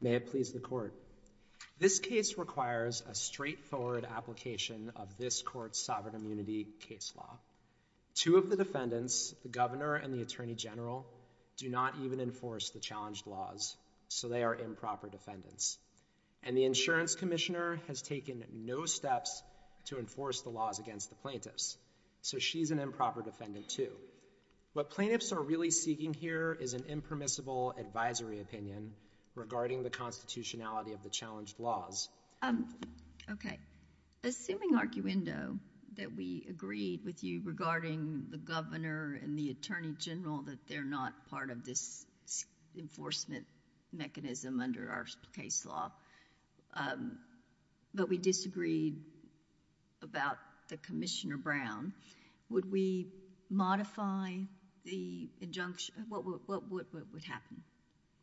May it please the Court. This case requires a straightforward application of this Court's sovereign immunity case law. Two of the defendants, the Governor and the Attorney General, do not even enforce the challenged laws, so they are improper defendants. And the Insurance Commissioner has taken no steps to enforce the laws against the plaintiffs, so she's an improper defendant too. What plaintiffs are really seeking here is an impermissible advisory opinion regarding the constitutionality of the challenged laws. Okay. Assuming, arguendo, that we agreed with you regarding the Governor and the Attorney General that they're not part of this enforcement mechanism under our case law, but we disagreed about the Commissioner Brown, would we modify the injunction? What would happen?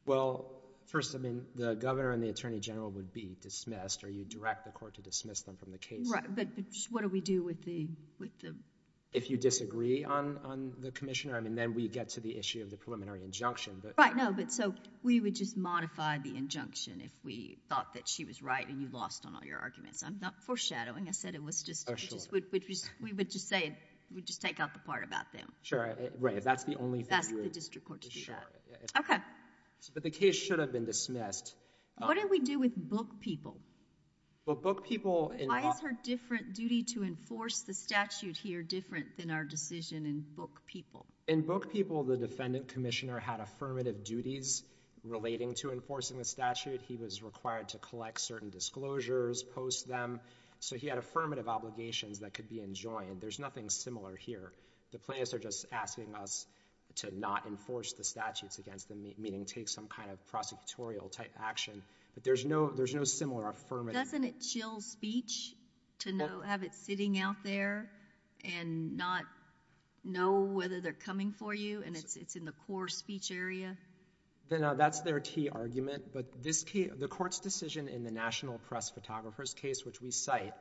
Well, first, I mean, the Governor and the Attorney General would be dismissed, or you'd direct the Court to dismiss them from the case. Right. But what do we do with the... If you disagree on the Commissioner, I mean, then we get to the issue of the preliminary injunction, but... Right. No, but so we would just modify the injunction if we thought that she was right and you lost on all your arguments. I'm not foreshadowing. I said it was just... We would just say it. We'd just take out the part about them. Sure. Right. If that's the only... Ask the District Court to do that. Sure. Yeah. Okay. But the case should have been dismissed. What do we do with book people? Well, book people... Why is her different duty to enforce the statute here different than our decision in book people? In book people, the Defendant Commissioner had affirmative duties relating to enforcing the statute. He was required to collect certain disclosures, post them, so he had affirmative obligations that could be enjoined. There's nothing similar here. The plaintiffs are just asking us to not enforce the statutes against them, meaning take some kind of prosecutorial type action, but there's no similar affirmative... Doesn't it chill speech to have it sitting out there and not know whether they're coming for you and it's in the core speech area? No, that's their key argument, but this case... the Court's decision in the National Press Photographer's case, which we cite,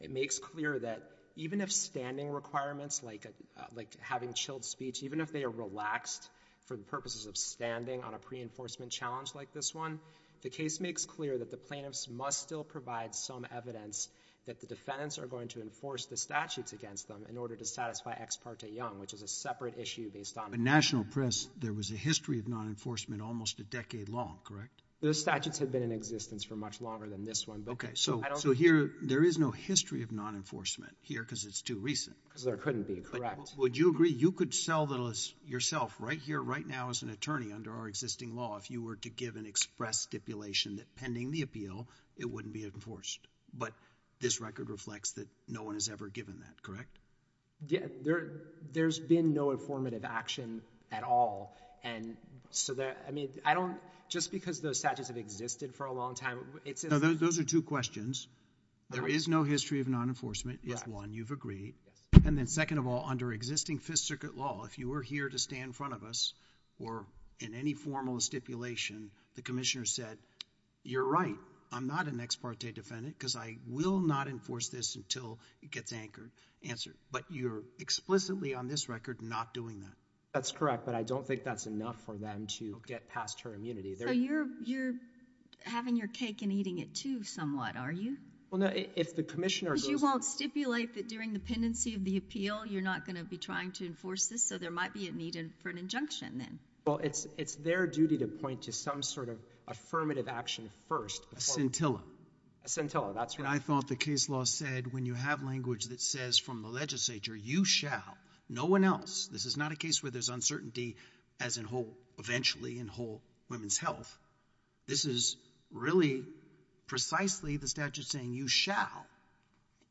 it makes clear that even if standing requirements like having chilled speech, even if they are relaxed for the purposes of standing on a pre-enforcement challenge like this one, the case makes clear that the plaintiffs must still provide some evidence that the defendants are going to enforce the statutes against them in order to satisfy Ex parte Young, which is a separate issue based on... In National Press, there was a history of non-enforcement almost a decade long, correct? The statutes had been in existence for much longer than this one, but... Okay, so here, there is no history of non-enforcement here because it's too recent. Because there couldn't be, correct. Would you agree you could sell the list yourself right here, right now as an attorney under our existing law if you were to give an express stipulation that pending the appeal, it wouldn't be enforced, but this record reflects that no one has ever given that, correct? There has been no informative action at all, and so there... I mean, I don't... just because those statutes have existed for a long time, it's... No, those are two questions. There is no history of non-enforcement is one you've agreed, and then second of all, under existing Fifth Circuit law, if you were here to stand in front of us or in any formal stipulation, the commissioner said, you're right, I'm not an Ex parte defendant because I will not enforce this until it gets anchored, answered, but you're explicitly on this record not doing that. That's correct, but I don't think that's enough for them to get past her immunity. So, you're having your cake and eating it, too, somewhat, are you? Well, no, if the commissioner goes... Because you won't stipulate that during the pendency of the appeal, you're not going to be trying to enforce this, so there might be a need for an injunction, then. Well, it's their duty to point to some sort of affirmative action first... A scintilla. A scintilla, that's right. And I thought the case law said, when you have language that says from the legislature, you shall, no one else, this is not a case where there's uncertainty as in whole, eventually, in whole women's health. This is really precisely the statute saying you shall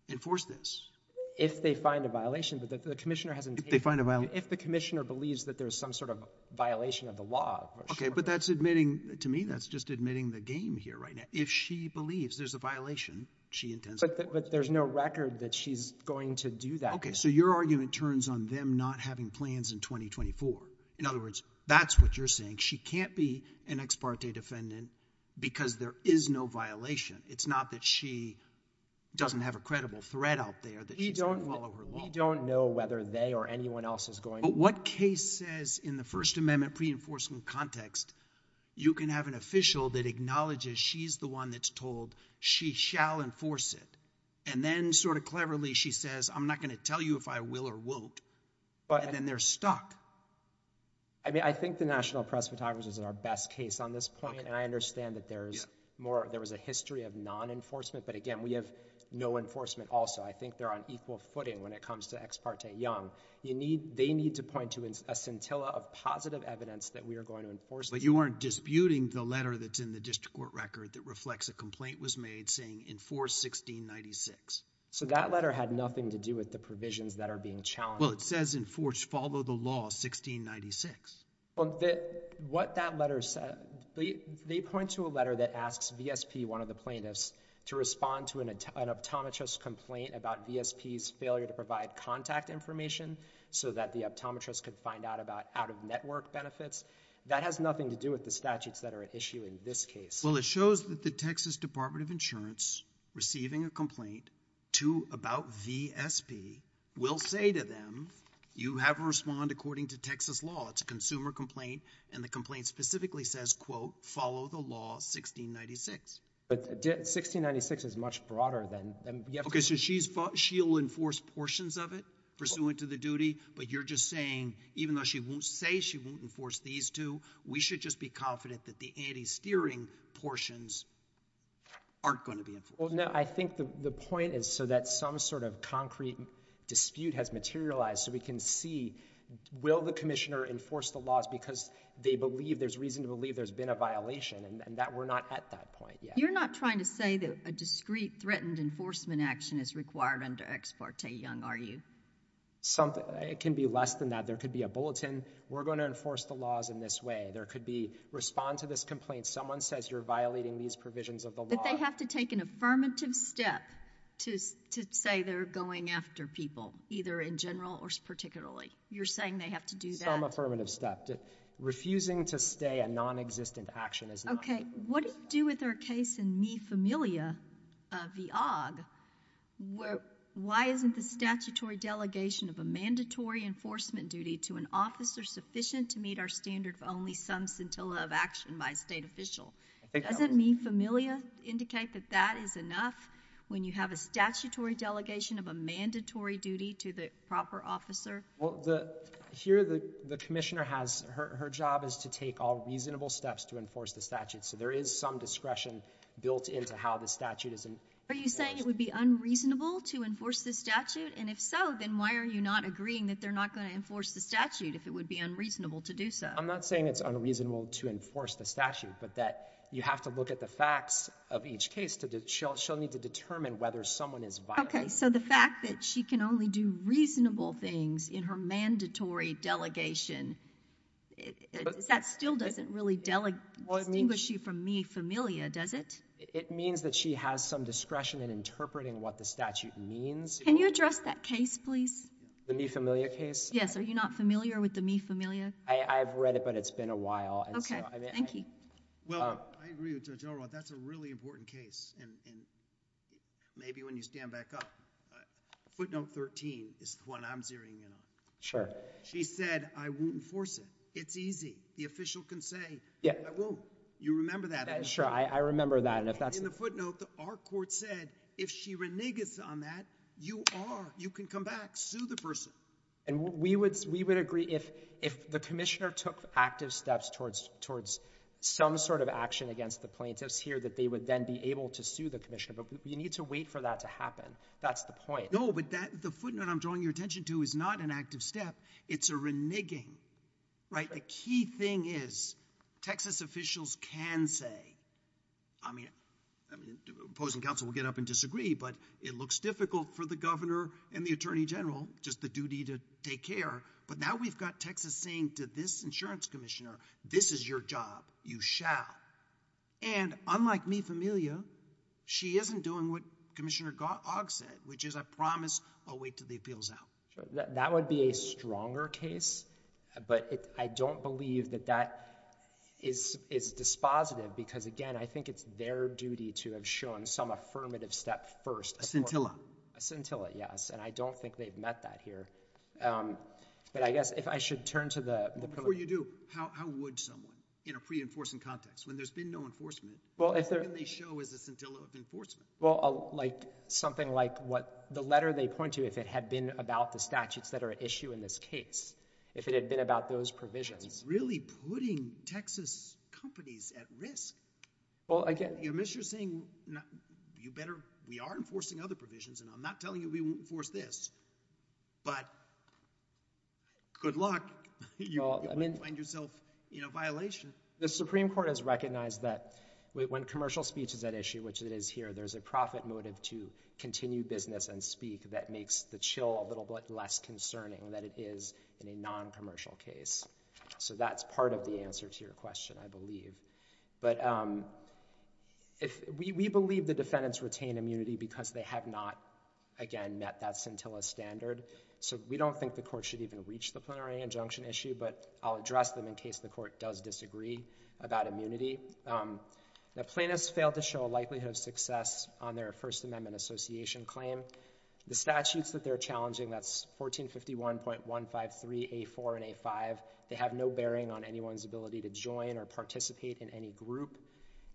enforce this. If they find a violation, but the commissioner hasn't... If they find a violation. If the commissioner believes that there's some sort of violation of the law... Okay, but that's admitting, to me, that's just admitting the game here right now. If she believes there's a violation, she intends to... But there's no record that she's going to do that... Okay, so your argument turns on them not having plans in 2024. In other words, that's what you're saying. She can't be an ex parte defendant because there is no violation. It's not that she doesn't have a credible threat out there that she's going to follow her law. We don't know whether they or anyone else is going to... But what case says in the First Amendment pre-enforcement context, you can have an official that acknowledges she's the one that's told she shall enforce it, and then sort of cleverly she says, I'm not going to tell you if I will or won't, and then they're stuck. I mean, I think the National Press Photographers is our best case on this point, and I understand that there's more... there was a history of non-enforcement, but again, we have no enforcement also. I think they're on equal footing when it comes to ex parte young. They need to point to a scintilla of positive evidence that we are going to enforce... But you aren't disputing the letter that's in the district court record that reflects a complaint was made saying enforce 1696. So that letter had nothing to do with the provisions that are being challenged. Well, it says enforce, follow the law, 1696. What that letter says... they point to a letter that asks VSP, one of the plaintiffs, to respond to an optometrist complaint about VSP's failure to provide contact information so that the optometrist could find out about out-of-network benefits. That has nothing to do with the statutes that are at issue in this case. Well, it shows that the Texas Department of Insurance, receiving a complaint to... about VSP, will say to them, you have to respond according to Texas law. It's a consumer complaint, and the complaint specifically says, quote, follow the law, 1696. But 1696 is much broader than... Okay, so she's... she'll enforce portions of it pursuant to the duty, but you're just saying, even though she won't say she won't enforce these two, we should just be confident that the anti-steering portions aren't going to be enforced. Well, no, I think the point is so that some sort of concrete dispute has materialized so we can see, will the commissioner enforce the laws because they believe, there's reason to believe there's been a violation, and that we're not at that point yet. You're not trying to say that a discreet, threatened enforcement action is required under Ex Parte Young, are you? Something... it can be less than that. There could be a bulletin, we're going to enforce the laws in this way. There could be, respond to this complaint, someone says you're violating these provisions of the law. But they have to take an affirmative step to say they're going after people, either in general or particularly. You're saying they have to do that? Some affirmative step. Refusing to stay a non-existent action is not... Okay, what do you do with her case in Mi Familia v. Aug? Why isn't the statutory delegation of a mandatory enforcement duty to an officer sufficient to meet our standard of only some scintilla of action by a state official? Doesn't Mi Familia indicate that that is enough when you have a statutory delegation of a mandatory duty to the proper officer? Here the commissioner has, her job is to take all reasonable steps to enforce the statute, so there is some discretion built into how the statute is... Are you saying it would be unreasonable to enforce the statute? And if so, then why are you not agreeing that they're not going to enforce the statute if it would be unreasonable to do so? I'm not saying it's unreasonable to enforce the statute, but that you have to look at the facts of each case to, she'll need to determine whether someone is violating... Okay, so the fact that she can only do reasonable things in her mandatory delegation, that still doesn't really distinguish you from Mi Familia, does it? It means that she has some discretion in interpreting what the statute means. Can you address that case, please? The Mi Familia case? Yes. Are you not familiar with the Mi Familia? I've read it, but it's been a while, and so... Thank you. Well, I agree with Judge Elrod. That's a really important case, and maybe when you stand back up, footnote 13 is the one I'm zeroing in on. Sure. She said, I won't enforce it. It's easy. The official can say, I won't. You remember that. Yeah, sure. I remember that, and if that's... In the footnote, our court said, if she reneges on that, you are... you can come back, sue the person. And we would agree, if the commissioner took active steps towards some sort of action against the plaintiffs here, that they would then be able to sue the commissioner, but you need to wait for that to happen. That's the point. No, but the footnote I'm drawing your attention to is not an active step. It's a reneging. Right? The key thing is, Texas officials can say, I mean, opposing counsel will get up and disagree, but it looks difficult for the governor and the attorney general, just the duty to take care, but now we've got Texas saying to this insurance commissioner, this is your job. You shall. And unlike me, Familia, she isn't doing what Commissioner Ogg said, which is, I promise, I'll wait until the appeal's out. That would be a stronger case, but I don't believe that that is dispositive, because again, I think it's their duty to have shown some affirmative step first... A scintilla, yes, and I don't think they've met that here, but I guess, if I should turn to the... Before you do, how would someone, in a pre-enforcement context, when there's been no enforcement, what can they show as a scintilla of enforcement? Well, like, something like what, the letter they point to, if it had been about the statutes that are at issue in this case, if it had been about those provisions... That's really putting Texas companies at risk. Well, again... I mean, you're saying, you better, we are enforcing other provisions, and I'm not telling you we won't enforce this, but good luck, you might find yourself in a violation. The Supreme Court has recognized that when commercial speech is at issue, which it is here, there's a profit motive to continue business and speak that makes the chill a little bit less concerning than it is in a non-commercial case. So that's part of the answer to your question, I believe, but we believe the defendants retain immunity because they have not, again, met that scintilla standard, so we don't think the court should even reach the plenary injunction issue, but I'll address them in case the court does disagree about immunity. The plaintiffs failed to show a likelihood of success on their First Amendment Association claim. The statutes that they're challenging, that's 1451.153A4 and A5, they have no bearing on anyone's ability to join or participate in any group.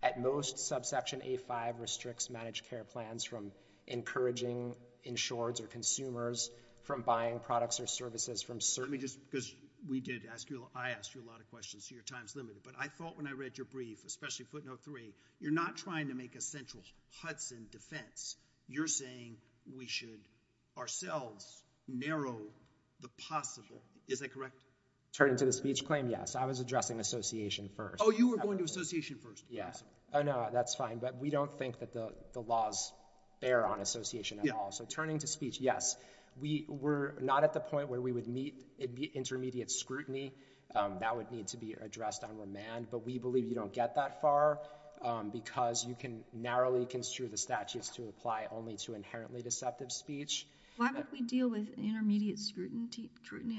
At most, subsection A5 restricts managed care plans from encouraging insureds or consumers from buying products or services from... Let me just, because we did ask you, I asked you a lot of questions, so your time's limited, but I thought when I read your brief, especially footnote three, you're not trying to make a central Hudson defense. You're saying we should ourselves narrow the possible. Is that correct? Turning to the speech claim, yes. I was addressing association first. Oh, you were going to association first. Yes. Oh, no, that's fine, but we don't think that the laws bear on association at all. So turning to speech, yes. We were not at the point where we would meet intermediate scrutiny. That would need to be addressed on remand, but we believe you don't get that far because you can narrowly construe the statutes to apply only to inherently deceptive speech. Why would we deal with intermediate scrutiny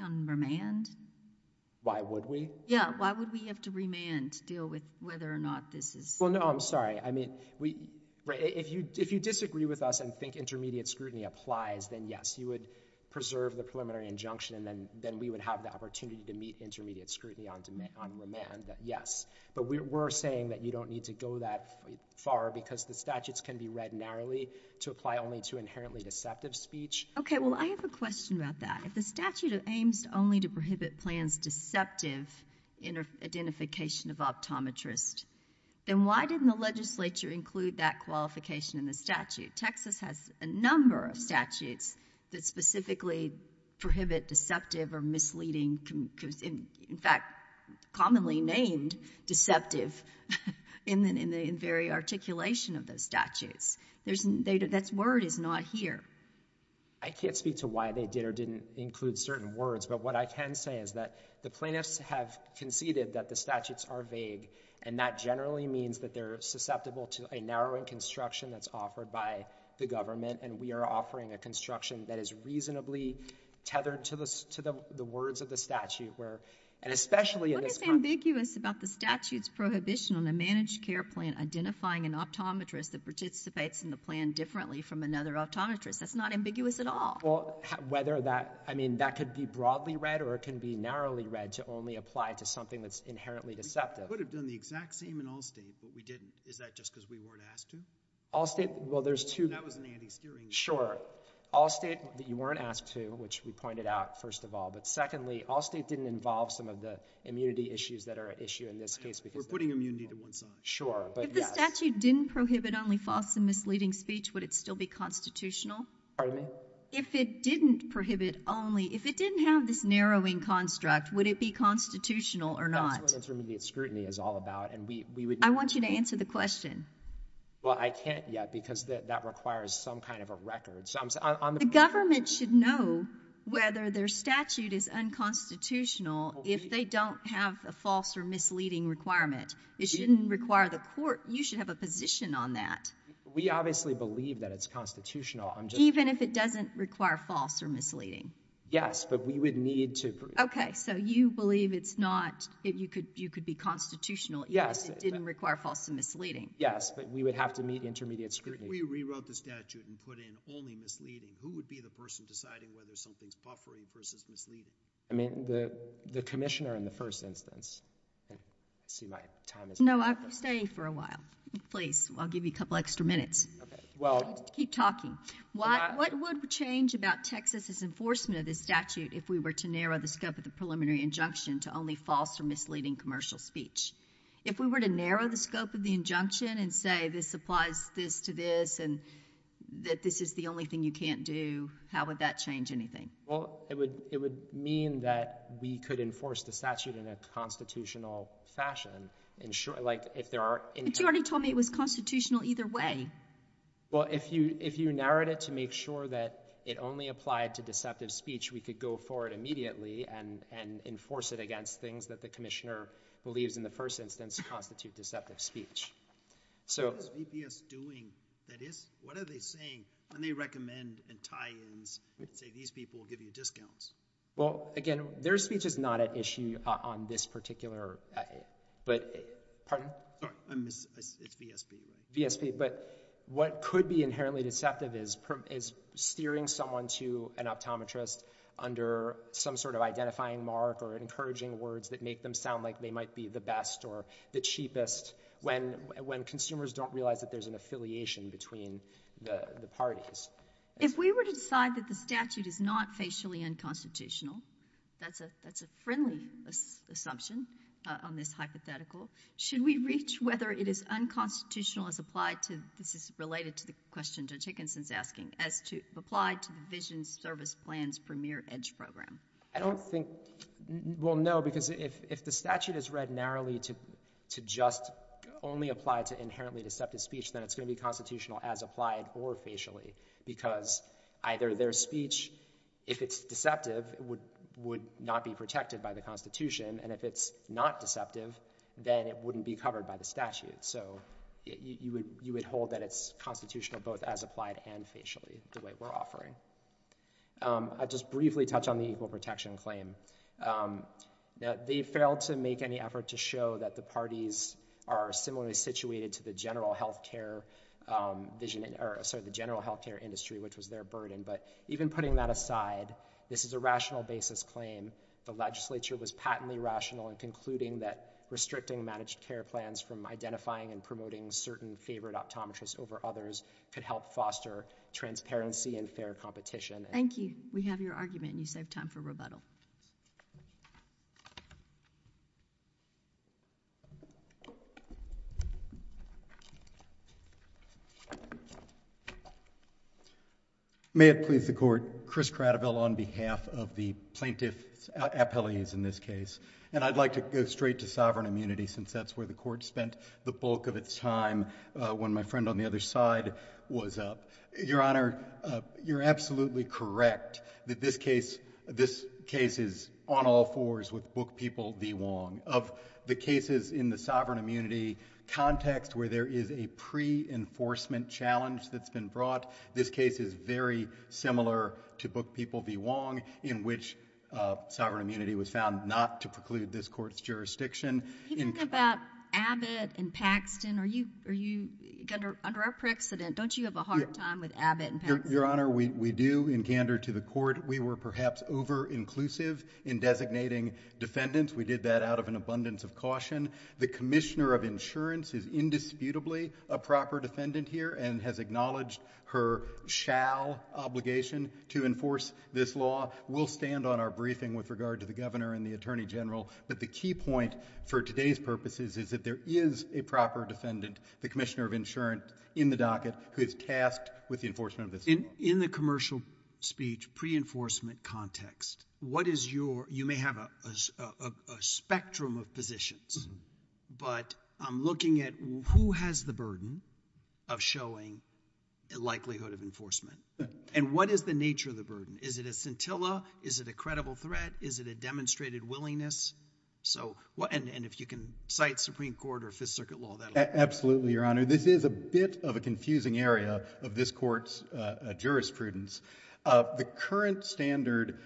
on remand? Why would we? Yeah, why would we have to remand to deal with whether or not this is... Well, no, I'm sorry. I mean, if you disagree with us and think intermediate scrutiny applies, then yes, you would preserve the preliminary injunction, and then we would have the opportunity to meet intermediate scrutiny on remand, yes. But we're saying that you don't need to go that far because the statutes can be read narrowly to apply only to inherently deceptive speech. Okay, well, I have a question about that. If the statute aims only to prohibit plans deceptive identification of optometrists, then why didn't the legislature include that qualification in the statute? Texas has a number of statutes that specifically prohibit deceptive or misleading, in fact, commonly named deceptive in the very articulation of those statutes. That word is not here. I can't speak to why they did or didn't include certain words, but what I can say is that the plaintiffs have conceded that the statutes are vague, and that generally means that they're susceptible to a narrowing construction that's offered by the government, and we are offering a construction that is reasonably tethered to the words of the statute, where, and especially in this context— What is ambiguous about the statute's prohibition on a managed care plan identifying an optometrist that participates in the plan differently from another optometrist? That's not ambiguous at all. Well, whether that—I mean, that could be broadly read or it can be narrowly read to only apply to something that's inherently deceptive. I would have done the exact same in Allstate, but we didn't. Is that just because we weren't asked to? Allstate—well, there's two— That was an anti-steering— Sure. Allstate, you weren't asked to, which we pointed out, first of all, but secondly, Allstate didn't involve some of the immunity issues that are at issue in this case because— We're putting immunity to one side. Sure, but yes. If the statute didn't prohibit only false and misleading speech, would it still be constitutional? Pardon me? If it didn't prohibit only—if it didn't have this narrowing construct, would it be constitutional or not? That's what intermediate scrutiny is all about, and we would— I want you to answer the question. Well, I can't yet because that requires some kind of a record, so I'm— The government should know whether their statute is unconstitutional if they don't have a false or misleading requirement. It shouldn't require the court—you should have a position on that. We obviously believe that it's constitutional. Even if it doesn't require false or misleading? Yes, but we would need to— Okay, so you believe it's not—you could be constitutional even if it didn't require false and misleading? Yes, but we would have to meet intermediate scrutiny. If we rewrote the statute and put in only misleading, who would be the person deciding whether something's buffering versus misleading? I mean, the commissioner in the first instance. Let's see if my time is up. No, stay for a while, please. I'll give you a couple extra minutes. Okay, well— Keep talking. What would change about Texas's enforcement of this statute if we were to narrow the scope of the preliminary injunction to only false or misleading commercial speech? If we were to narrow the scope of the injunction and say this applies this to this and that this is the only thing you can't do, how would that change anything? Well, it would mean that we could enforce the statute in a constitutional fashion. Like if there are— But you already told me it was constitutional either way. Well, if you narrowed it to make sure that it only applied to deceptive speech, we could go forward immediately and enforce it against things that the commissioner believes in the first instance constitute deceptive speech. So— What is VPS doing that is—what are they saying when they recommend and tie-ins, say these people will give you discounts? Well, again, their speech is not an issue on this particular—but—pardon? Sorry, I missed—it's VSP. VSP. But what could be inherently deceptive is steering someone to an optometrist under some sort of identifying mark or encouraging words that make them sound like they might be the best or the cheapest when consumers don't realize that there's an affiliation between the parties. If we were to decide that the statute is not facially unconstitutional—that's a friendly assumption on this hypothetical—should we reach whether it is unconstitutional as applied to—this is related to the question Judge Hickinson's asking—as applied to the Vision Service Plan's Premier EDGE program? I don't think—well, no, because if the statute is read narrowly to just only apply to inherently deceptive speech, then it's going to be constitutional as applied or facially unconstitutional. Because either their speech, if it's deceptive, would not be protected by the Constitution, and if it's not deceptive, then it wouldn't be covered by the statute. So you would hold that it's constitutional both as applied and facially, the way we're offering. I'll just briefly touch on the Equal Protection Claim. They failed to make any effort to show that the parties are similarly situated to the general health care vision—or, sorry, the general health care industry, which was their burden. But even putting that aside, this is a rational basis claim. The legislature was patently rational in concluding that restricting managed care plans from identifying and promoting certain favored optometrists over others could help foster transparency and fair competition. Thank you. We have your argument, and you saved time for rebuttal. May it please the Court, Chris Cradivel on behalf of the plaintiff's appellees in this case. And I'd like to go straight to sovereign immunity, since that's where the Court spent the bulk of its time when my friend on the other side was up. Your Honor, you're absolutely correct that this case is on all fours with Book People v. Wong. Of the cases in the sovereign immunity context where there is a pre-enforcement challenge that's been brought, this case is very similar to Book People v. Wong, in which sovereign immunity was found not to preclude this Court's jurisdiction. If you think about Abbott and Paxton, under our precedent, don't you have a hard time with Abbott and Paxton? Your Honor, we do. In candor to the Court, we were perhaps over-inclusive in designating defendants. We did that out of an abundance of caution. The Commissioner of Insurance is indisputably a proper defendant here and has acknowledged her shall obligation to enforce this law. We'll stand on our briefing with regard to the Governor and the Attorney General, but the key point for today's purposes is that there is a proper defendant, the Commissioner of Insurance in the docket, who is tasked with the enforcement of this law. In the commercial speech, pre-enforcement context, you may have a spectrum of positions, but I'm looking at who has the burden of showing a likelihood of enforcement, and what is the nature of the burden? Is it a scintilla? Is it a credible threat? Is it a demonstrated willingness? If you can cite Supreme Court or Fifth Circuit law, that'll help. Absolutely, Your Honor. This is a bit of a confusing area of this Court's jurisprudence. The current standard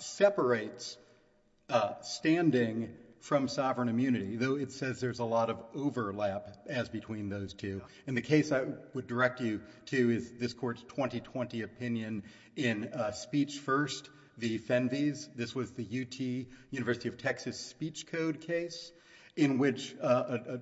separates standing from sovereign immunity, though it says there's a lot of overlap as between those two. The case I would direct you to is this Court's 2020 opinion in Speech First v. Fenves. This was the UT, University of Texas, speech code case in which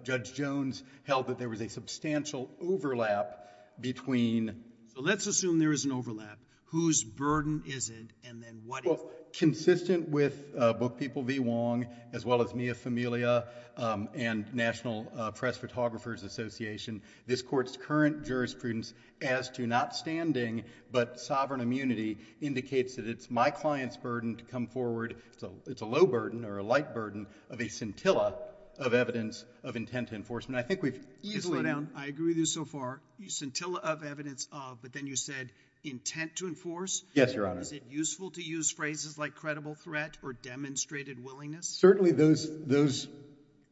Judge Jones held that there was a substantial overlap between... So, let's assume there is an overlap. Whose burden is it, and then what is it? Well, consistent with Book People v. Wong, as well as Mia Famiglia and National Press Photographers Association, this Court's current jurisprudence as to not standing but sovereign immunity indicates that it's my client's burden to come forward. It's a low burden or a light burden of a scintilla of evidence of intent to enforce. I think we've... Easily now, I agree with you so far, scintilla of evidence of, but then you said intent to Yes, Your Honor. Is it useful to use phrases like credible threat or demonstrated willingness? Certainly those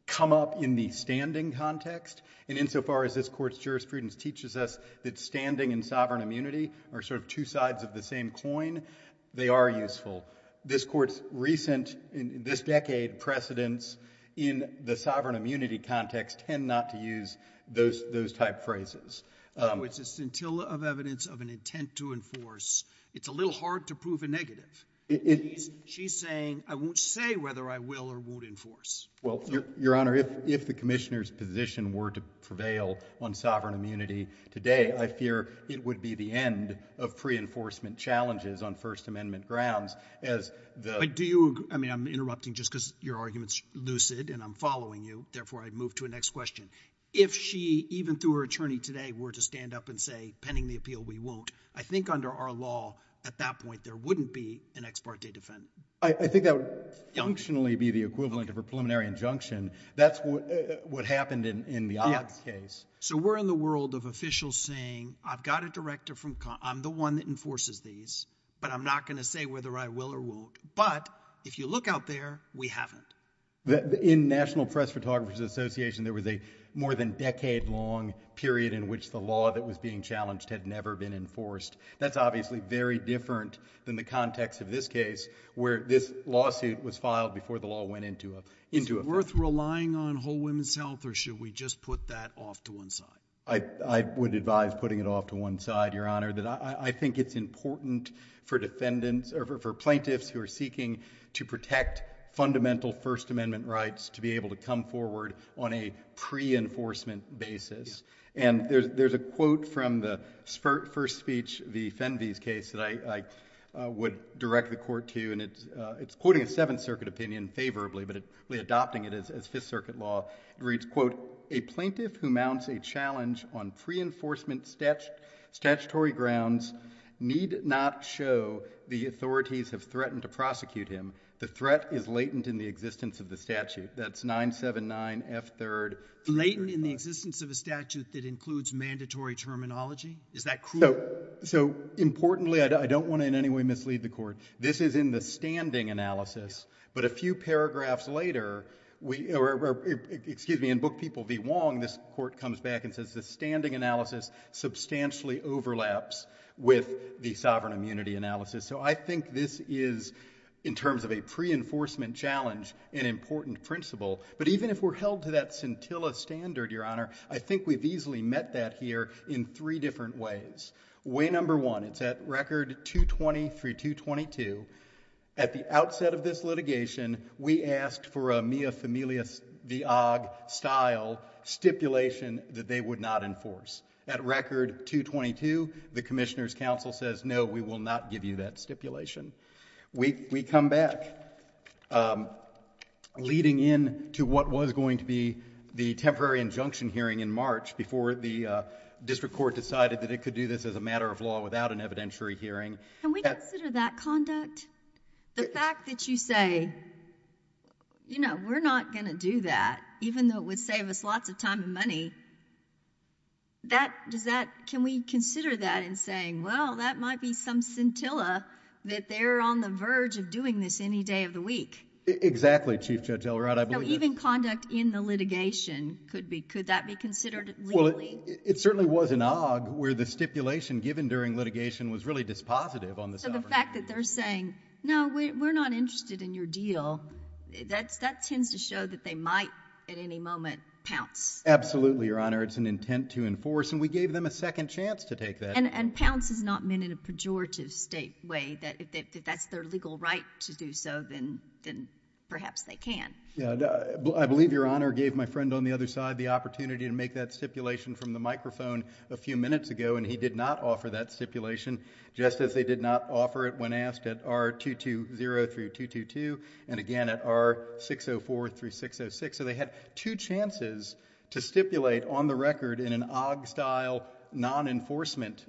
come up in the standing context, and insofar as this Court's jurisprudence teaches us that standing and sovereign immunity are sort of two sides of the same coin, they are useful. This Court's recent, in this decade, precedents in the sovereign immunity context tend not to use those type phrases. Oh, it's a scintilla of evidence of an intent to enforce. It's a little hard to prove a negative. She's saying, I won't say whether I will or won't enforce. Well, Your Honor, if the Commissioner's position were to prevail on sovereign immunity today, I fear it would be the end of pre-enforcement challenges on First Amendment grounds as the But do you agree, I mean, I'm interrupting just because your argument's lucid and I'm following you, therefore I'd move to the next question. If she, even through her attorney today, were to stand up and say, pending the appeal, we won't, I think under our law at that point there wouldn't be an ex parte defendant. I think that would functionally be the equivalent of a preliminary injunction. That's what happened in the Ott's case. So we're in the world of officials saying, I've got a director from, I'm the one that enforces these, but I'm not going to say whether I will or won't, but if you look out there, we haven't. In National Press Photographers Association, there was a more than decade long period in which the law that was being challenged had never been enforced. That's obviously very different than the context of this case where this lawsuit was filed before the law went into effect. Is it worth relying on whole women's health or should we just put that off to one side? I would advise putting it off to one side, Your Honor, that I think it's important for defendants or for plaintiffs who are seeking to protect fundamental First Amendment rights to be able to come forward on a pre-enforcement basis. And there's a quote from the first speech, the Fenvey's case, that I would direct the court to. And it's quoting a Seventh Circuit opinion favorably, but we're adopting it as Fifth Circuit law. It reads, quote, a plaintiff who mounts a challenge on pre-enforcement statutory grounds need not show the authorities have threatened to prosecute him. The threat is latent in the existence of the statute. That's 979F3. Latent in the existence of a statute that includes mandatory terminology? Is that crude? So, importantly, I don't want to in any way mislead the court. This is in the standing analysis. But a few paragraphs later, we, excuse me, in Book People v. Wong, this court comes back and says the standing analysis substantially overlaps with the sovereign immunity analysis. So I think this is, in terms of a pre-enforcement challenge, an important principle. But even if we're held to that scintilla standard, Your Honor, I think we've easily met that here in three different ways. Way number one, it's at record 220 through 222. At the outset of this litigation, we asked for a Mia Familias v. Ogg style stipulation that they would not enforce. At record 222, the Commissioner's counsel says, no, we will not give you that stipulation. We come back, leading in to what was going to be the temporary injunction hearing in March before the district court decided that it could do this as a matter of law without an evidentiary hearing. Can we consider that conduct? The fact that you say, you know, we're not going to do that, even though it would save us lots of time and money, can we consider that in saying, well, that might be some scintilla that they're on the verge of doing this any day of the week? Exactly, Chief Judge Elrod, I believe that's... Even conduct in the litigation, could that be considered legally? It certainly was in Ogg, where the stipulation given during litigation was really dispositive on the sovereignty. So the fact that they're saying, no, we're not interested in your deal, that tends to show that they might, at any moment, pounce. Absolutely, Your Honor, it's an intent to enforce, and we gave them a second chance to take that. And pounce is not meant in a pejorative state way, that if that's their legal right to do so, then perhaps they can. I believe Your Honor gave my friend on the other side the opportunity to make that stipulation from the microphone a few minutes ago, and he did not offer that stipulation, just as they did not offer it when asked at R220 through 222, and again at R604 through 606. So they had two chances to stipulate on the record in an Ogg-style non-enforcement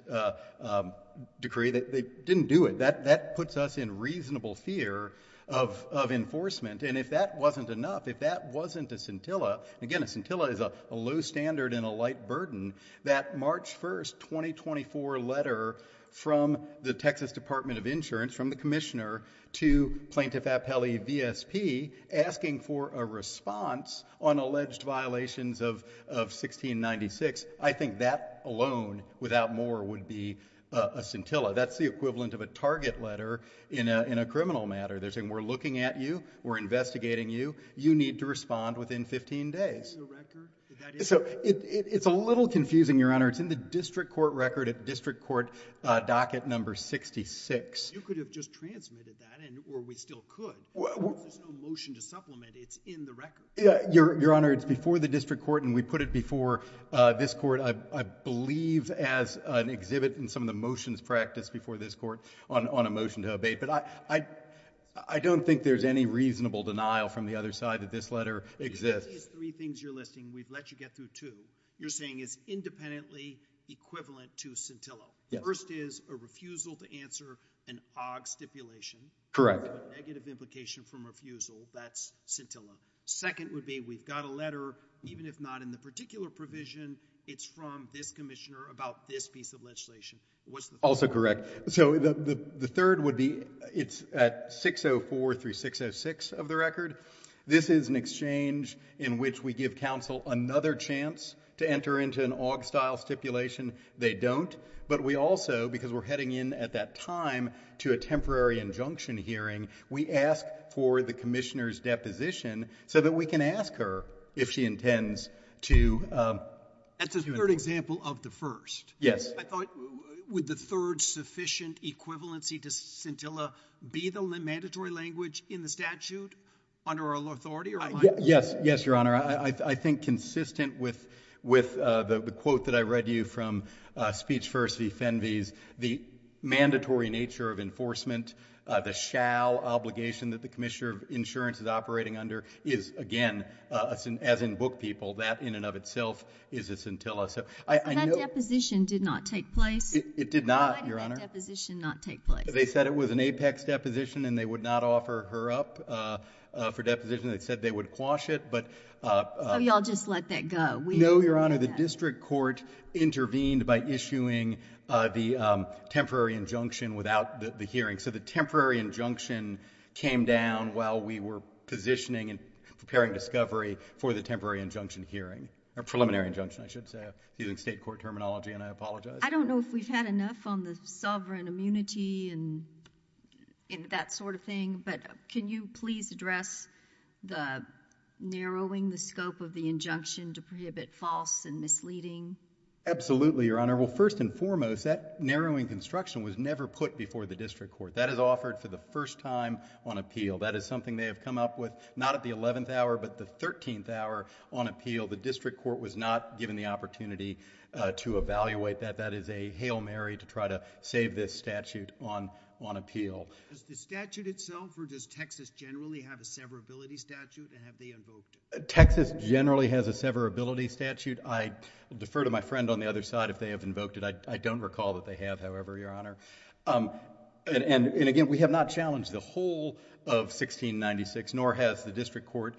decree. They didn't do it. That puts us in reasonable fear of enforcement, and if that wasn't enough, if that wasn't a scintilla... Again, a scintilla is a low standard and a light burden. That March 1st, 2024 letter from the Texas Department of Insurance, from the commissioner to Plaintiff Appellee VSP, asking for a response on alleged violations of 1696, I think that alone, without more, would be a scintilla. That's the equivalent of a target letter in a criminal matter. They're saying, we're looking at you, we're investigating you, you need to respond within 15 days. So it's a little confusing, Your Honor, it's in the district court record, at district court docket number 66. You could have just transmitted that, or we still could, if there's no motion to supplement, it's in the record. Your Honor, it's before the district court, and we put it before this court, I believe, as an exhibit in some of the motions practiced before this court on a motion to abate, but I don't think there's any reasonable denial from the other side that this letter exists. These three things you're listing, we've let you get through two. You're saying it's independently equivalent to scintilla. Yes. So the first is a refusal to answer an OGG stipulation. Correct. Negative implication from refusal, that's scintilla. Second would be, we've got a letter, even if not in the particular provision, it's from this commissioner about this piece of legislation. Also correct. So the third would be, it's at 604 through 606 of the record. This is an exchange in which we give counsel another chance to enter into an OGG style stipulation. They don't. But we also, because we're heading in at that time to a temporary injunction hearing, we ask for the commissioner's deposition so that we can ask her if she intends to... That's a third example of the first. Yes. I thought, would the third sufficient equivalency to scintilla be the mandatory language in the statute under our authority? Yes, Your Honor. I think consistent with the quote that I read to you from Speech First v. Fenves, the mandatory nature of enforcement, the shall obligation that the commissioner of insurance is operating under is, again, as in book people, that in and of itself is a scintilla. So I know... But that deposition did not take place? It did not, Your Honor. Why did that deposition not take place? They said it was an Apex deposition and they would not offer her up for deposition. They said they would quash it, but... So you all just let that go? No, Your Honor. The district court intervened by issuing the temporary injunction without the hearing. So the temporary injunction came down while we were positioning and preparing discovery for the temporary injunction hearing, or preliminary injunction, I should say, using state court terminology, and I apologize. I don't know if we've had enough on the sovereign immunity and that sort of thing, but can you please address the narrowing, the scope of the injunction to prohibit false and misleading? Absolutely, Your Honor. Well, first and foremost, that narrowing construction was never put before the district court. That is offered for the first time on appeal. That is something they have come up with not at the 11th hour, but the 13th hour on appeal. The district court was not given the opportunity to evaluate that. That is a hail Mary to try to save this statute on appeal. Does the statute itself, or does Texas generally have a severability statute, and have they invoked it? Texas generally has a severability statute. I defer to my friend on the other side if they have invoked it. I don't recall that they have, however, Your Honor. And again, we have not challenged the whole of 1696, nor has the district court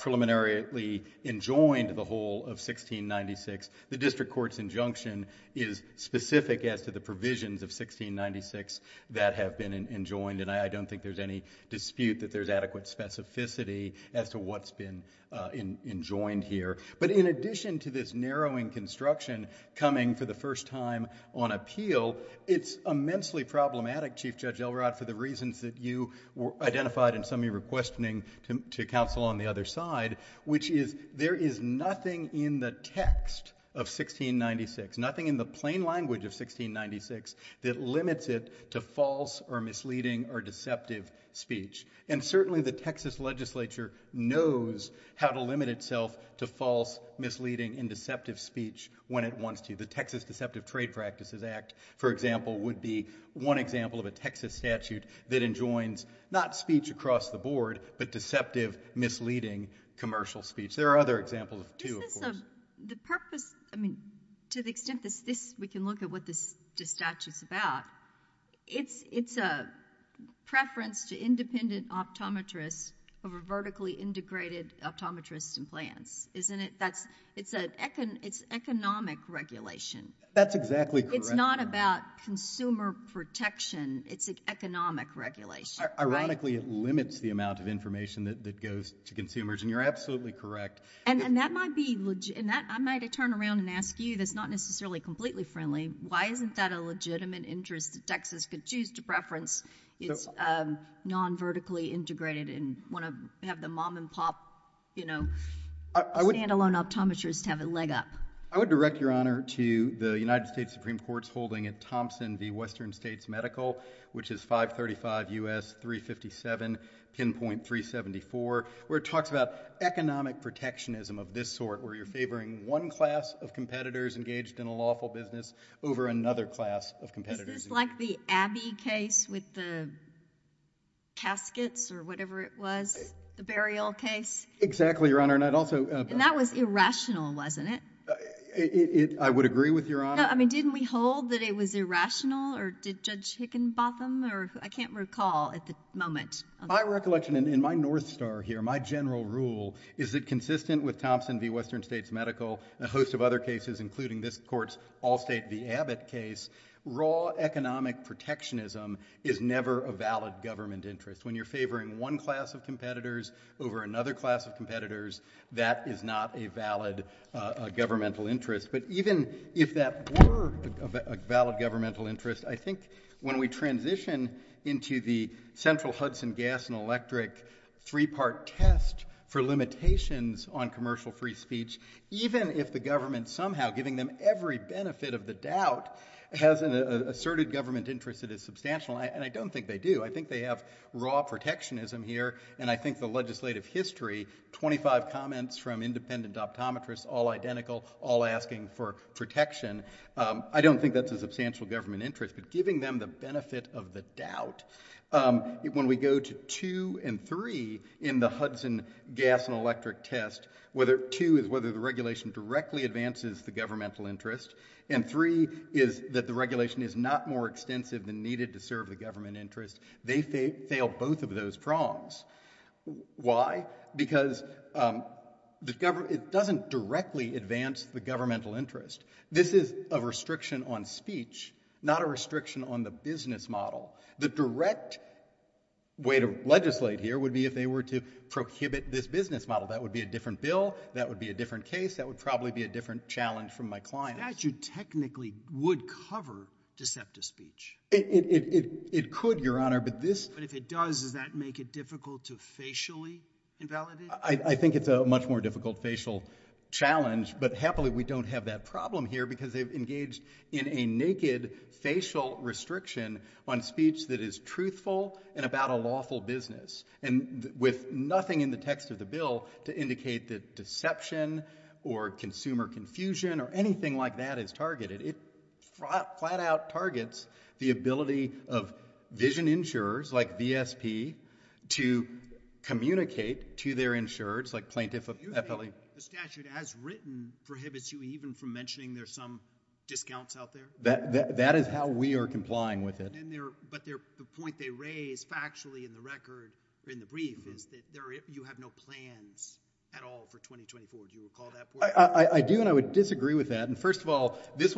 preliminarily enjoined the whole of 1696. The district court's injunction is specific as to the provisions of 1696 that have been enjoined, and I don't think there's any dispute that there's adequate specificity as to what's been enjoined here. But in addition to this narrowing construction coming for the first time on appeal, it's immensely problematic, Chief Judge Elrod, for the reasons that you identified and some of you were questioning to counsel on the other side, which is there is nothing in the text of 1696, nothing in the plain language of 1696, that limits it to false or misleading or deceptive speech. And certainly the Texas legislature knows how to limit itself to false, misleading, and deceptive speech when it wants to. The Texas Deceptive Trade Practices Act, for example, would be one example of a Texas statute that enjoins not speech across the board, but deceptive, misleading commercial speech. There are other examples, too, of course. The purpose, I mean, to the extent this, we can look at what this statute's about, it's a preference to independent optometrists over vertically integrated optometrists and plans, isn't it? It's economic regulation. That's exactly correct. It's not about consumer protection, it's economic regulation, right? Ironically, it limits the amount of information that goes to consumers, and you're absolutely correct. And that might be, I might turn around and ask you, that's not necessarily completely friendly, why isn't that a legitimate interest that Texas could choose to preference its non-vertically integrated and want to have the mom and pop, you know, standalone optometrists have a leg up? I would direct, Your Honor, to the United States Supreme Court's holding at Thompson v. Western States Medical, which is 535 U.S. 357, 10.374, where it talks about economic protectionism of this sort, where you're favoring one class of competitors engaged in a lawful business over another class of competitors. Is this like the Abbey case with the caskets or whatever it was, the burial case? Exactly, Your Honor, and I'd also— And that was irrational, wasn't it? I would agree with Your Honor. No, I mean, didn't we hold that it was irrational, or did Judge Hickenbotham, or I can't recall at the moment. My recollection, and my north star here, my general rule, is that consistent with Thompson v. Western States Medical and a host of other cases, including this court's Allstate v. Abbott case, raw economic protectionism is never a valid government interest. When you're favoring one class of competitors over another class of competitors, that is not a valid governmental interest. But even if that were a valid governmental interest, I think when we transition into the central Hudson gas and electric three-part test for limitations on commercial free speech, even if the government somehow, giving them every benefit of the doubt, has an asserted government interest that is substantial, and I don't think they do, I think they have raw protectionism here, and I think the legislative history, 25 comments from independent optometrists, all identical, all asking for protection, I don't think that's a substantial government interest. But giving them the benefit of the doubt. When we go to two and three in the Hudson gas and electric test, two is whether the regulation directly advances the governmental interest, and three is that the regulation is not more extensive than needed to serve the government interest. They fail both of those prongs. Why? Because it doesn't directly advance the governmental interest. This is a restriction on speech, not a restriction on the business model. The direct way to legislate here would be if they were to prohibit this business model. That would be a different bill. That would be a different case. That would probably be a different challenge from my clients. The statute technically would cover deceptive speech. It could, Your Honor, but this... But if it does, does that make it difficult to facially invalidate? I think it's a much more difficult facial challenge, but happily we don't have that problem here because they've engaged in a naked facial restriction on speech that is truthful and about a lawful business, and with nothing in the text of the bill to indicate that deception or consumer confusion or anything like that is targeted. It flat out targets the ability of vision insurers like VSP to communicate to their insurers like plaintiff... Excuse me. The statute, as written, prohibits you even from mentioning there's some discounts out there? That is how we are complying with it. But the point they raise factually in the record, in the brief, is that you have no plans at all for 2024. Do you recall that point? I do, and I would disagree with that. And first of all, this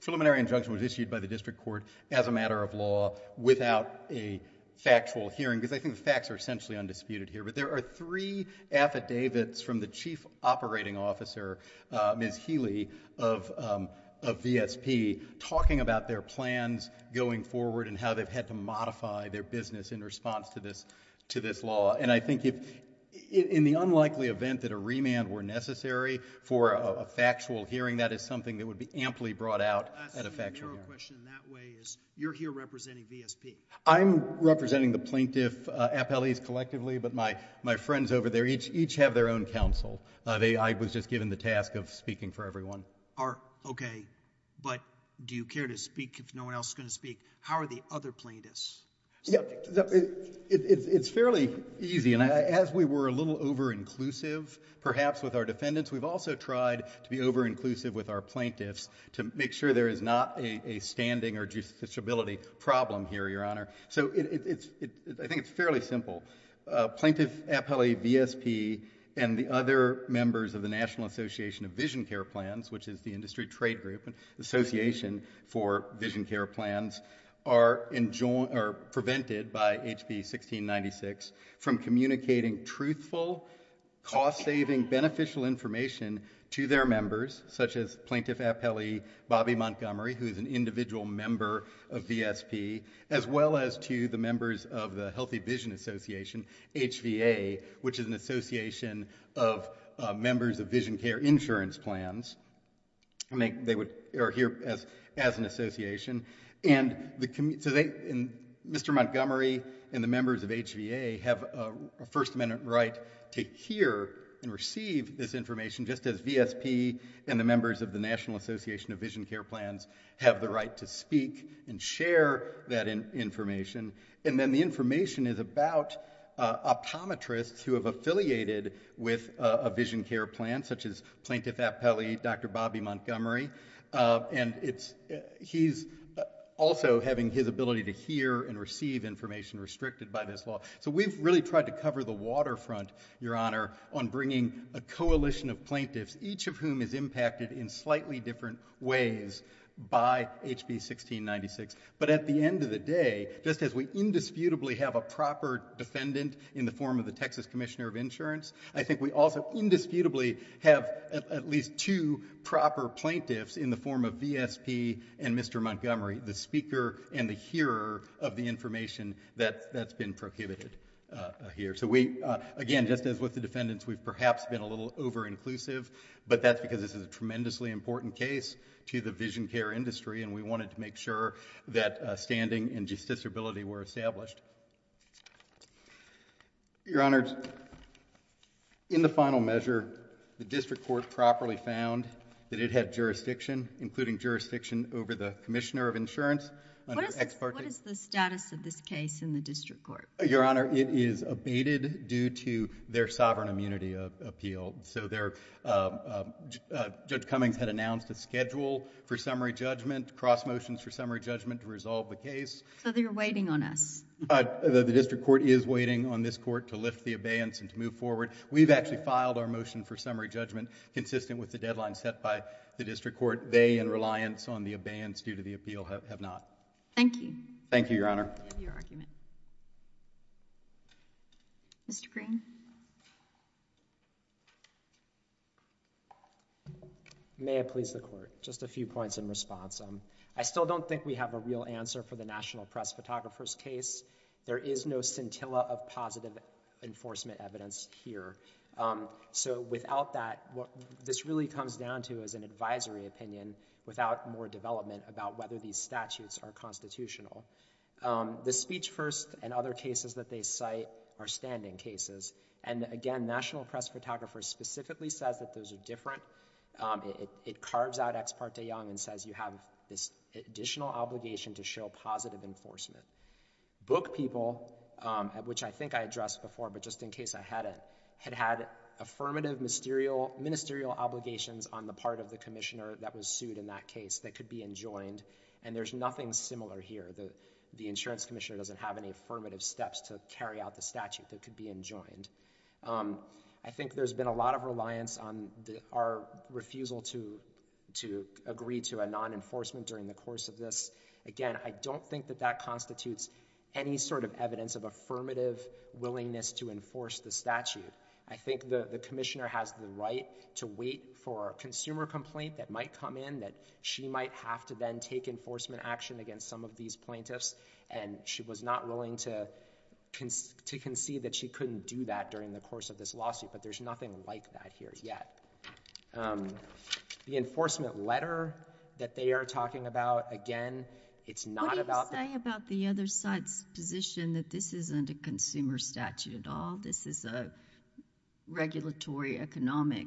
preliminary injunction was issued by the district court as a matter of law without a factual hearing, because I think the facts are essentially undisputed here. But there are three affidavits from the chief operating officer, Ms. Healy, of VSP talking about their plans going forward and how they've had to modify their business in response to this law. And I think in the unlikely event that a remand were necessary for a factual hearing, that is something that would be amply brought out at a factual hearing. I see the narrow question in that way is you're here representing VSP. I'm representing the plaintiff appellees collectively, but my friends over there each have their own counsel. I was just given the task of speaking for everyone. Okay. But do you care to speak if no one else is going to speak? How are the other plaintiffs subject to this? It's fairly easy, and as we were a little over-inclusive, perhaps, with our defendants, we've also tried to be over-inclusive with our plaintiffs to make sure there is not a standing or justiciability problem here, Your Honor. So I think it's fairly simple. Plaintiff appellee VSP and the other members of the National Association of Vision Care Plans, which is the industry trade group, Association for Vision Care Plans, are prevented by HB 1696 from communicating truthful, cost-saving, beneficial information to their members, such as Plaintiff Appellee Bobby Montgomery, who is an individual member of VSP, as well as to the members of the Healthy Vision Association, HVA, which is an association of members of vision care insurance plans. They are here as an association. And Mr. Montgomery and the members of HVA have a First Amendment right to hear and receive this information, just as VSP and the members of the National Association of Vision Care Plans have the right to speak and share that information. And then the information is about optometrists who have affiliated with a vision care plan, such as Plaintiff Appellee Dr. Bobby Montgomery. And he's also having his ability to hear and receive information restricted by this law. So we've really tried to cover the waterfront, Your Honor, on bringing a coalition of plaintiffs, each of whom is impacted in slightly different ways by HB 1696. But at the end of the day, just as we indisputably have a proper defendant in the form of the plaintiffs, in the form of VSP and Mr. Montgomery, the speaker and the hearer of the information that's been prohibited here. So we, again, just as with the defendants, we've perhaps been a little over-inclusive, but that's because this is a tremendously important case to the vision care industry and we wanted to make sure that standing and justiciability were established. Your Honor, in the final measure, the district court properly found that it had jurisdiction, including jurisdiction over the Commissioner of Insurance. What is the status of this case in the district court? Your Honor, it is abated due to their sovereign immunity appeal. So Judge Cummings had announced a schedule for summary judgment, cross motions for summary judgment to resolve the case. So they're waiting on us? The district court is waiting on this court to lift the abeyance and to move forward. We've actually filed our motion for summary judgment consistent with the deadline set by the district court. They, in reliance on the abeyance due to the appeal, have not. Thank you. Thank you, Your Honor. We have your argument. Mr. Green? May it please the Court, just a few points in response. I still don't think we have a real answer for the National Press Photographer's case. There is no scintilla of positive enforcement evidence here. So without that, what this really comes down to is an advisory opinion without more development about whether these statutes are constitutional. The Speech First and other cases that they cite are standing cases. And again, National Press Photographer specifically says that those are different. It carves out Ex Parte Young and says you have this additional obligation to show positive enforcement. Book People, which I think I addressed before, but just in case I hadn't, had had affirmative ministerial obligations on the part of the commissioner that was sued in that case that could be enjoined. And there's nothing similar here. The insurance commissioner doesn't have any affirmative steps to carry out the statute that could be enjoined. I think there's been a lot of reliance on our refusal to agree to a non-enforcement during the course of this. Again, I don't think that that constitutes any sort of evidence of affirmative willingness to enforce the statute. I think the commissioner has the right to wait for a consumer complaint that might come in that she might have to then take enforcement action against some of these plaintiffs. And she was not willing to concede that she couldn't do that during the course of this lawsuit. But there's nothing like that here yet. The enforcement letter that they are talking about, again, it's not about the... What do you say about the other side's position that this isn't a consumer statute at all? This is a regulatory economic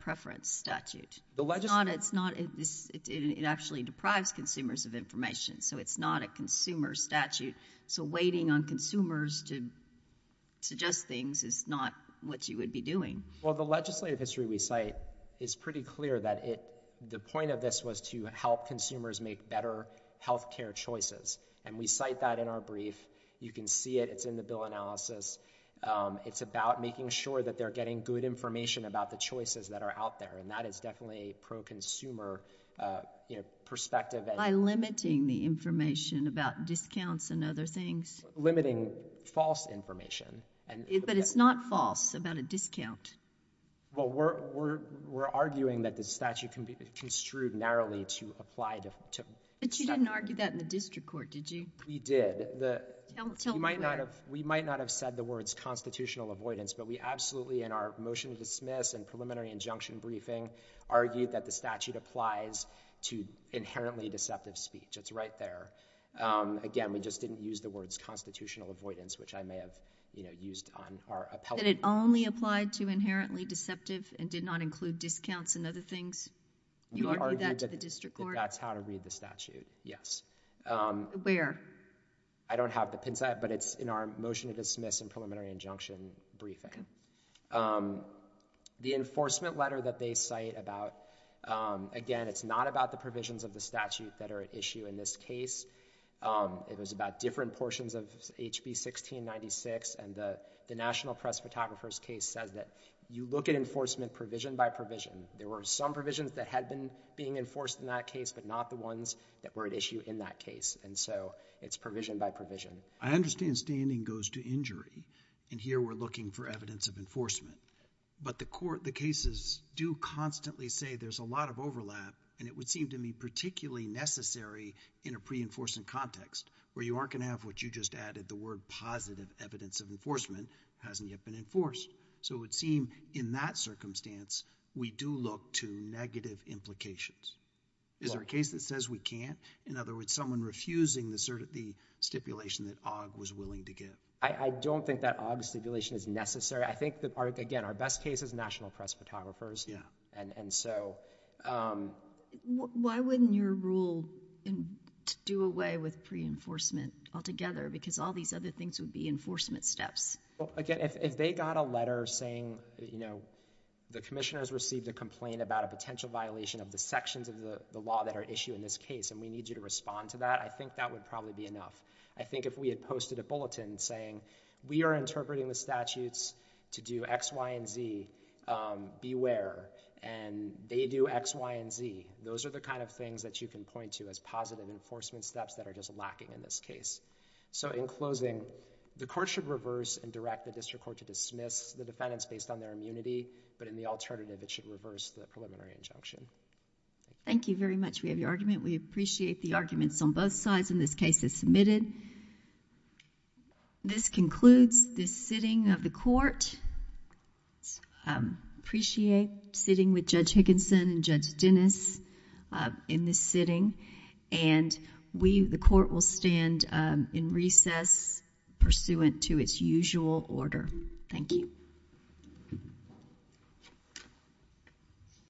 preference statute. The legislature... It's not... It actually deprives consumers of information. So it's not a consumer statute. So waiting on consumers to suggest things is not what you would be doing. Well, the legislative history we cite is pretty clear that the point of this was to help consumers make better healthcare choices. And we cite that in our brief. You can see it. It's in the bill analysis. It's about making sure that they're getting good information about the choices that are out there. And that is definitely a pro-consumer perspective. By limiting the information about discounts and other things? Limiting false information. But it's not false about a discount. Well, we're arguing that the statute can be construed narrowly to apply to... But you didn't argue that in the district court, did you? We did. Tell me where. We might not have said the words constitutional avoidance, but we absolutely, in our motion to dismiss and preliminary injunction briefing, argued that the statute applies to inherently deceptive speech. It's right there. Again, we just didn't use the words constitutional avoidance, which I may have, you know, used on our appellate... That it only applied to inherently deceptive and did not include discounts and other things? You argued that to the district court? That's how to read the statute, yes. Where? I don't have the pin set, but it's in our motion to dismiss and preliminary injunction briefing. The enforcement letter that they cite about, again, it's not about the provisions of the statute that are at issue in this case. It was about different portions of HB 1696, and the National Press Photographer's case says that you look at enforcement provision by provision. There were some provisions that had been being enforced in that case, but not the ones that were at issue in that case, and so it's provision by provision. I understand standing goes to injury, and here we're looking for evidence of enforcement, but the court, the cases do constantly say there's a lot of overlap, and it would seem to me particularly necessary in a pre-enforcement context where you aren't going to have what you just added. The word positive evidence of enforcement hasn't yet been enforced, so it would seem in that circumstance, we do look to negative implications. Is there a case that says we can't? In other words, someone refusing the stipulation that OGG was willing to give. I don't think that OGG stipulation is necessary. I think that, again, our best case is National Press Photographers. Yeah. And so... Why wouldn't your rule do away with pre-enforcement altogether? Because all these other things would be enforcement steps. Well, again, if they got a letter saying, you know, the commissioners received a complaint about a potential violation of the sections of the law that are issued in this case, and we need you to respond to that, I think that would probably be enough. I think if we had posted a bulletin saying, we are interpreting the statutes to do X, Y, and Z, beware, and they do X, Y, and Z, those are the kind of things that you can point to as positive enforcement steps that are just lacking in this case. So in closing, the court should reverse and direct the district court to dismiss the defendants based on their immunity, but in the alternative, it should reverse the preliminary injunction. Thank you very much. We have your argument. We appreciate the arguments on both sides, and this case is submitted. This concludes this sitting of the court. I appreciate sitting with Judge Higginson and Judge Dennis in this sitting, and we, the court, will stand in recess pursuant to its usual order. Thank you.